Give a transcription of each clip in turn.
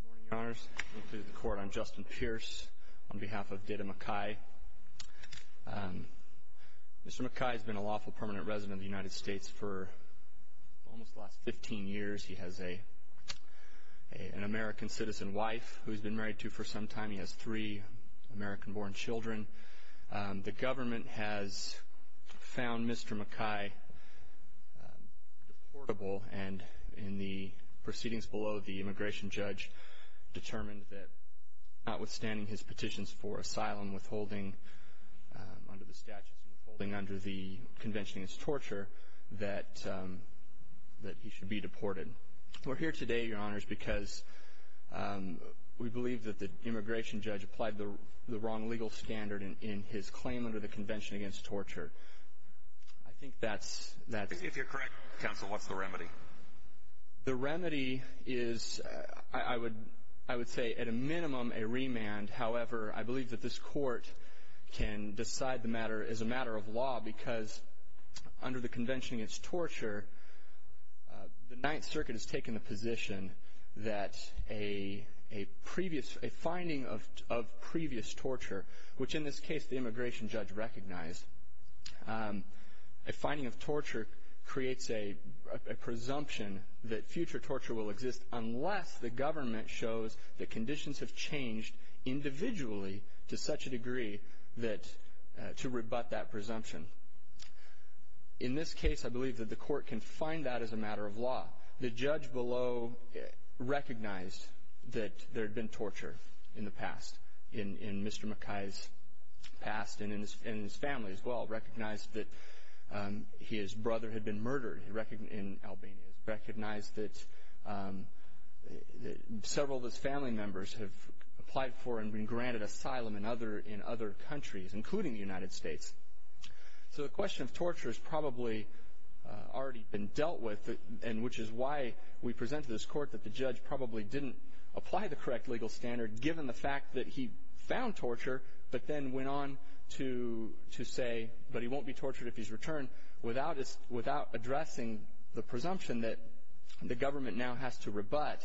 Good morning, Your Honors. Welcome to the Court. I'm Justin Pierce on behalf of Dida Makaj. Mr. Makaj has been a lawful permanent resident of the United States for almost the last 15 years. He has an American citizen wife who he's been married to for some time. He has three American-born children. The government has found Mr. Makaj deportable, and in the proceedings below the immigration judge determined that notwithstanding his petitions for asylum, withholding under the statutes and withholding under the convention against torture, that he should be deported. We're here today, Your Honors, because we believe that the immigration judge applied the wrong legal standard in his claim under the convention against torture. I think that's... If you're correct, counsel, what's the remedy? The remedy is, I would say, at a minimum, a remand. However, I believe that this Court can decide the matter as a matter of law because under the convention against torture, the Ninth Circuit has taken the position that a finding of previous torture, which in this case the immigration judge recognized, a finding of torture creates a presumption that future torture will exist unless the government shows that conditions have changed individually to such a degree that... to rebut that presumption. In this case, I believe that the Court can find that as a matter of law. The judge below recognized that there had been torture in the past, in Mr. Makaj's past and in his family as well, recognized that his brother had been murdered in Albania, recognized that several of his family members have applied for and been granted asylum in other countries, including the United States. So the question of torture has probably already been dealt with, and which is why we present to this Court that the judge probably didn't apply the correct legal standard, given the fact that he found torture but then went on to say, but he won't be tortured if he's returned, without addressing the presumption that the government now has to rebut.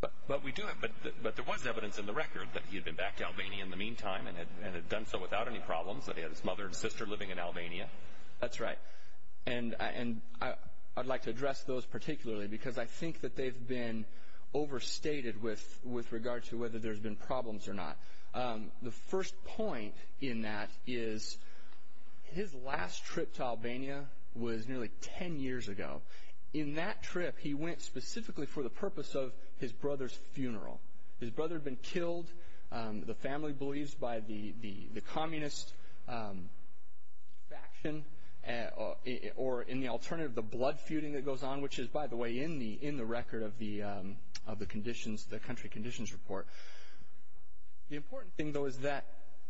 But we do have... but there was evidence in the record that he had been back to Albania in the meantime and had done so without any problems, that he had his mother and sister living in Albania. That's right. And I'd like to address those particularly because I think that they've been overstated with regard to whether there's been problems or not. The first point in that is his last trip to Albania was nearly 10 years ago. In that trip, he went specifically for the purpose of his brother's funeral. His brother had been killed, the family believes, by the communist faction, or in the alternative, the blood feuding that goes on, which is, by the way, in the record of the country conditions report. The important thing, though, is that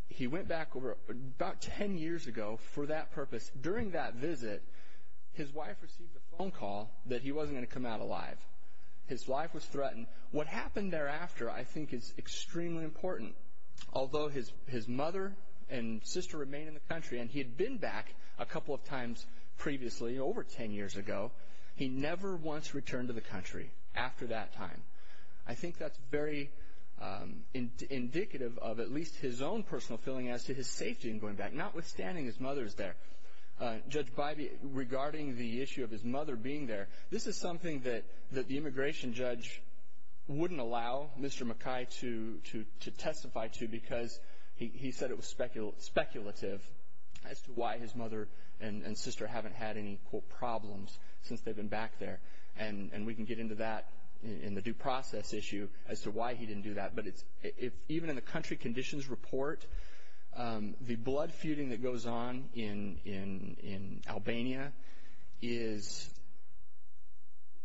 he went back about 10 years ago for that purpose. During that visit, his wife received a phone call that he wasn't going to come out alive. His wife was threatened. What happened thereafter, I think, is extremely important. Although his mother and sister remain in the country, and he had been back a couple of times previously, over 10 years ago, he never once returned to the country after that time. I think that's very indicative of at least his own personal feeling as to his safety in going back, notwithstanding his mother's there. Judge Bybee, regarding the issue of his mother being there, this is something that the immigration judge wouldn't allow Mr. McKay to testify to because he said it was speculative as to why his mother and sister haven't had any, quote, problems since they've been back there. And we can get into that in the due process issue as to why he didn't do that. But even in the country conditions report, the blood feuding that goes on in Albania is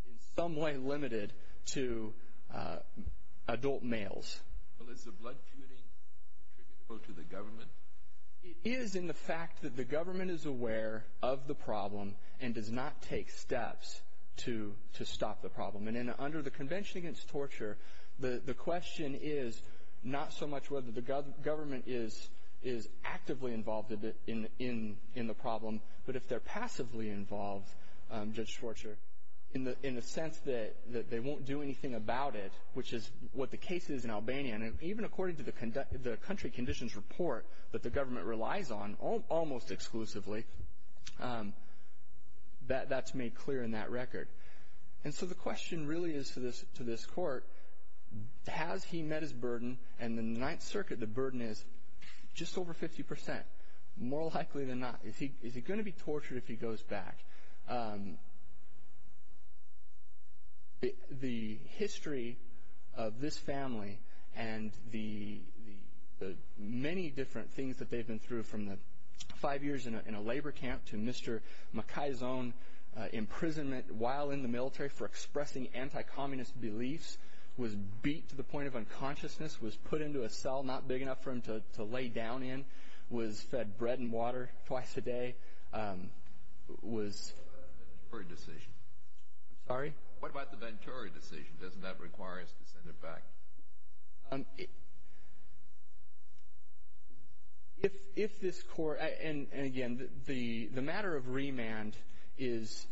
in some way limited to adult males. Well, is the blood feuding attributable to the government? It is in the fact that the government is aware of the problem and does not take steps to stop the problem. And under the Convention Against Torture, the question is not so much whether the government is actively involved in the problem, but if they're passively involved, Judge Schwartzer, in the sense that they won't do anything about it, which is what the case is in Albania. And even according to the country conditions report that the government relies on almost exclusively, that's made clear in that record. And so the question really is to this court, has he met his burden? And in the Ninth Circuit, the burden is just over 50 percent, more likely than not. Is he going to be tortured if he goes back? The history of this family and the many different things that they've been through, from the five years in a labor camp to Mr. Makai's own imprisonment while in the military for expressing anti-communist beliefs, was beat to the point of unconsciousness, was put into a cell not big enough for him to lay down in, was fed bread and water twice a day, was... What about the Ventura decision? I'm sorry? What about the Ventura decision? Doesn't that require us to send him back? If this court, and again, the matter of remand is,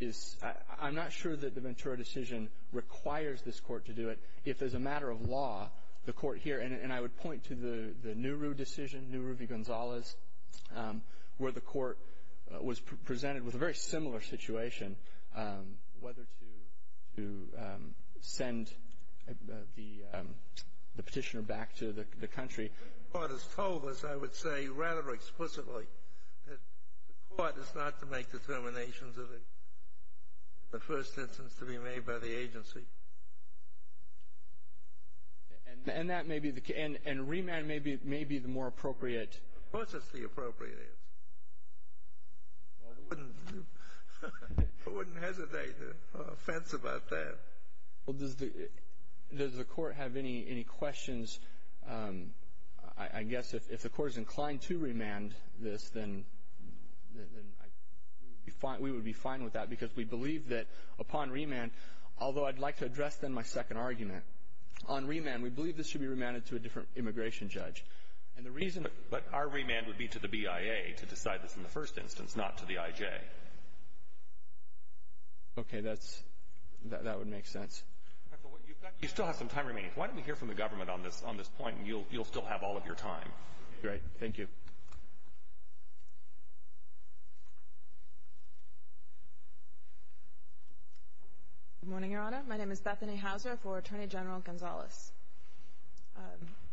I'm not sure that the Ventura decision requires this court to do it. If as a matter of law, the court here, and I would point to the Nehru decision, Nehru v. Gonzalez, where the court was presented with a very similar situation, whether to send the petitioner back to the country. The court has told us, I would say rather explicitly, that the court is not to make determinations of the first instance to be made by the agency. And remand may be the more appropriate... Of course it's the appropriate answer. I wouldn't hesitate to offense about that. Well, does the court have any questions? I guess if the court is inclined to remand this, then we would be fine with that because we believe that upon remand, although I'd like to address then my second argument. On remand, we believe this should be remanded to a different immigration judge. But our remand would be to the BIA to decide this in the first instance, not to the IJ. Okay, that would make sense. You still have some time remaining. Why don't we hear from the government on this point, and you'll still have all of your time. Great. Thank you. Good morning, Your Honor. My name is Bethany Hauser for Attorney General Gonzalez.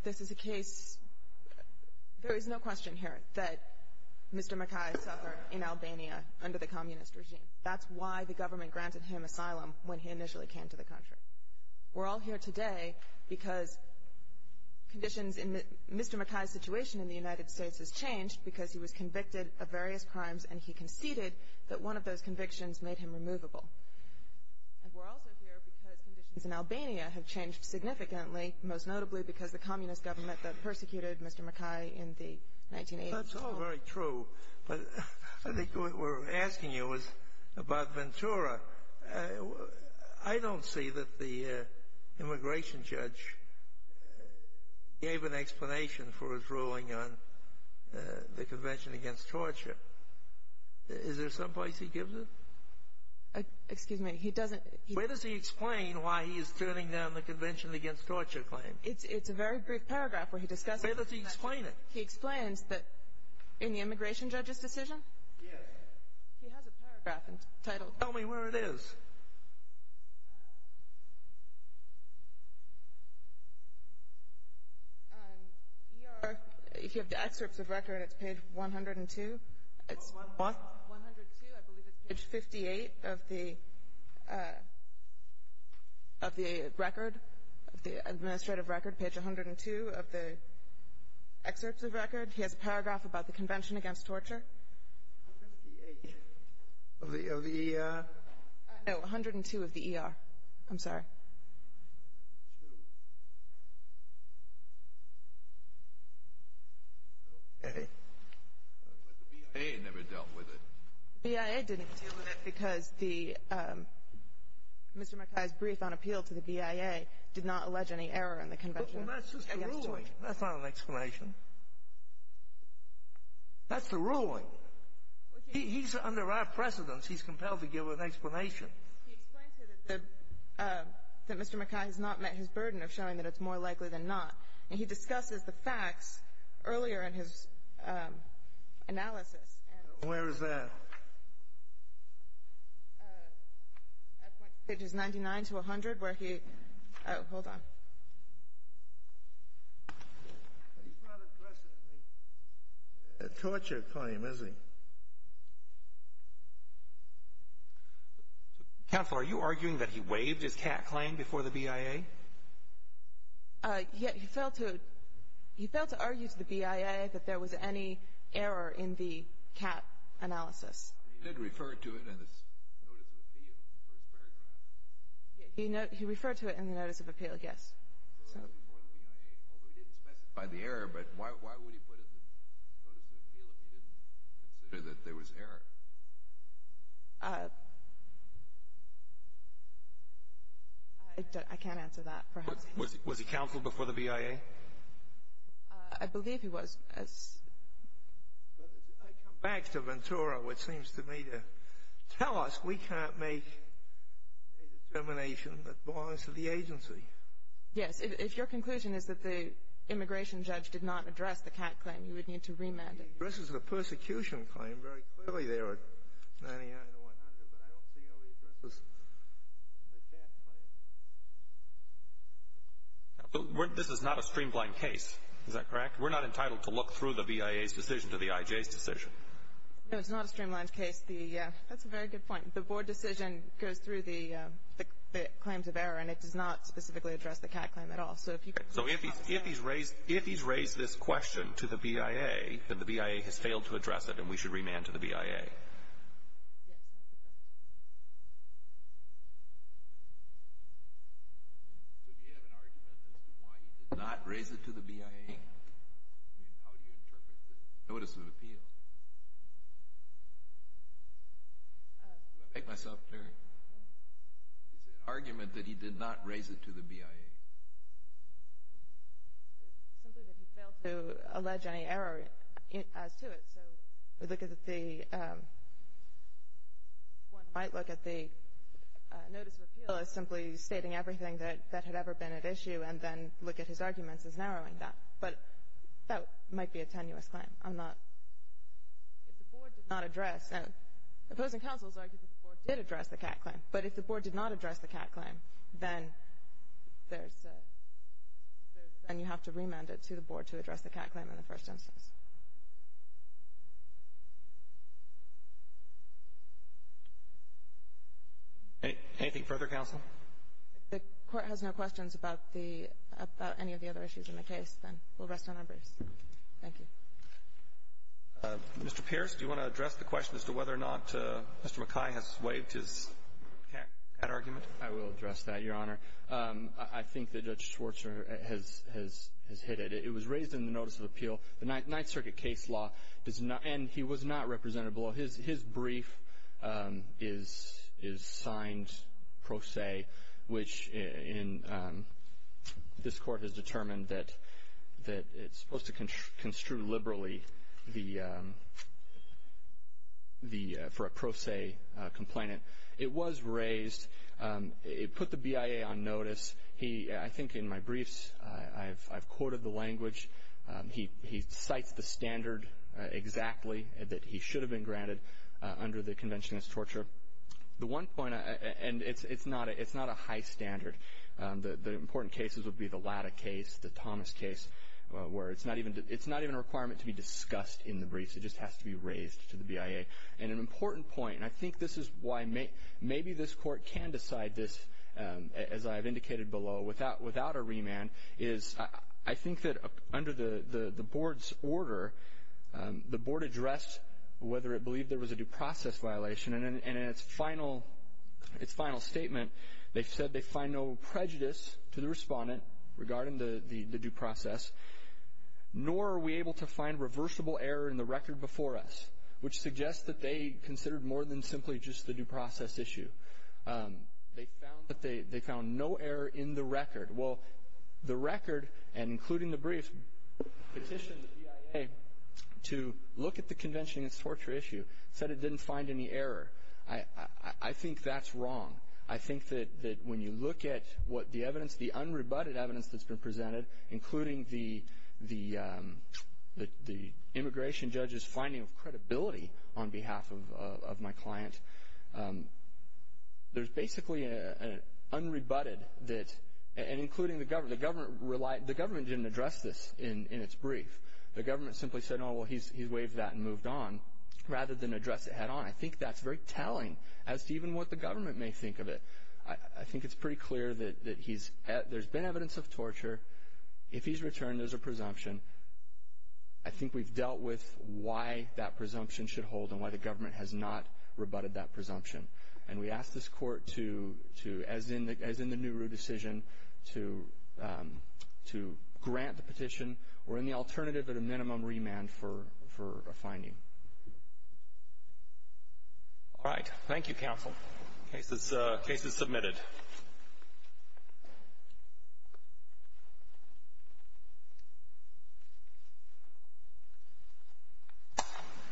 This is a case... There is no question here that Mr. Mackay suffered in Albania under the communist regime. That's why the government granted him asylum when he initially came to the country. We're all here today because conditions in the... Mr. Mackay's situation in the United States has changed because he was convicted of various crimes and he conceded that one of those convictions made him removable. And we're also here because conditions in Albania have changed significantly, most notably because the communist government that persecuted Mr. Mackay in the 1980s... That's all very true. But I think what we're asking you is about Ventura. I don't see that the immigration judge gave an explanation for his ruling on the Convention Against Torture. Is there some place he gives it? Excuse me, he doesn't... Where does he explain why he is turning down the Convention Against Torture claim? It's a very brief paragraph where he discusses... Where does he explain it? He explains that in the immigration judge's decision... Yes. He has a paragraph entitled... Tell me where it is. ER, if you have the excerpts of record, it's page 102. What? 102, I believe it's page 58 of the record, of the administrative record, page 102 of the excerpts of record. He has a paragraph about the Convention Against Torture. 58 of the... No, 102 of the ER. I'm sorry. Okay. But the BIA never dealt with it. The BIA didn't deal with it because Mr. Mackay's brief on appeal to the BIA did not allege any error in the Convention Against Torture. Well, that's just the ruling. That's not an explanation. That's the ruling. He's under our precedence. He's compelled to give an explanation. He explains here that Mr. Mackay has not met his burden of showing that it's more likely than not. And he discusses the facts earlier in his analysis. Where is that? At pages 99 to 100, where he... Oh, hold on. He's not addressing the torture claim, is he? Counsel, are you arguing that he waived his CAT claim before the BIA? He failed to argue to the BIA that there was any error in the CAT analysis. He did refer to it in his notice of appeal, the first paragraph. He referred to it in the notice of appeal, yes. So it was before the BIA, although he didn't specify the error. But why would he put it in the notice of appeal if he didn't consider that there was error? I can't answer that, perhaps. Was he counsel before the BIA? I believe he was. I come back to Ventura, which seems to me to tell us we can't make a determination that belongs to the agency. Yes. If your conclusion is that the immigration judge did not address the CAT claim, you would need to remand him. He addresses the persecution claim very clearly there at 99 to 100, but I don't see how he addresses the CAT claim. This is not a streamlined case. Is that correct? We're not entitled to look through the BIA's decision to the IJ's decision. No, it's not a streamlined case. That's a very good point. The board decision goes through the claims of error, and it does not specifically address the CAT claim at all. So if he's raised this question to the BIA, then the BIA has failed to address it, and we should remand to the BIA. Yes. So do you have an argument as to why he did not raise it to the BIA? I mean, how do you interpret the notice of appeal? Do I make myself clear? Is it an argument that he did not raise it to the BIA? It's simply that he failed to allege any error as to it. So we look at the one might look at the notice of appeal as simply stating everything that had ever been at issue and then look at his arguments as narrowing that. But that might be a tenuous claim. I'm not. If the board did not address, and opposing counsels argue that the board did address the CAT claim, but if the board did not address the CAT claim, then there's a, and you have to remand it to the board to address the CAT claim in the first instance. Anything further, counsel? If the court has no questions about any of the other issues in the case, then we'll rest on our briefs. Thank you. Mr. Pierce, do you want to address the question as to whether or not Mr. McKay has waived his CAT argument? I will address that, Your Honor. I think that Judge Schwartzer has hit it. It was raised in the notice of appeal. The Ninth Circuit case law does not, and he was not represented below. His brief is signed pro se, which this court has determined that it's supposed to construe liberally for a pro se complainant. It was raised. It put the BIA on notice. I think in my briefs I've quoted the language. He cites the standard exactly that he should have been granted under the convention as torture. The one point, and it's not a high standard. The important cases would be the Latta case, the Thomas case, where it's not even a requirement to be discussed in the briefs. It just has to be raised to the BIA. And an important point, and I think this is why maybe this court can decide this, as I have indicated below, without a remand, is I think that under the board's order, the board addressed whether it believed there was a due process violation. And in its final statement, they said they find no prejudice to the respondent regarding the due process, nor are we able to find reversible error in the record before us, which suggests that they considered more than simply just the due process issue. Well, the record, and including the briefs, petitioned the BIA to look at the convention as a torture issue. It said it didn't find any error. I think that's wrong. I think that when you look at what the evidence, the unrebutted evidence that's been presented, including the immigration judge's finding of credibility on behalf of my client, there's basically an unrebutted that, and including the government, the government didn't address this in its brief. The government simply said, oh, well, he's waived that and moved on, rather than address it head on. I think that's very telling as to even what the government may think of it. I think it's pretty clear that there's been evidence of torture. If he's returned, there's a presumption. I think we've dealt with why that presumption should hold and why the government has not rebutted that presumption. And we ask this court to, as in the Nehru decision, to grant the petition. We're in the alternative at a minimum remand for a finding. All right. Thank you, counsel. Case is submitted. Thank you.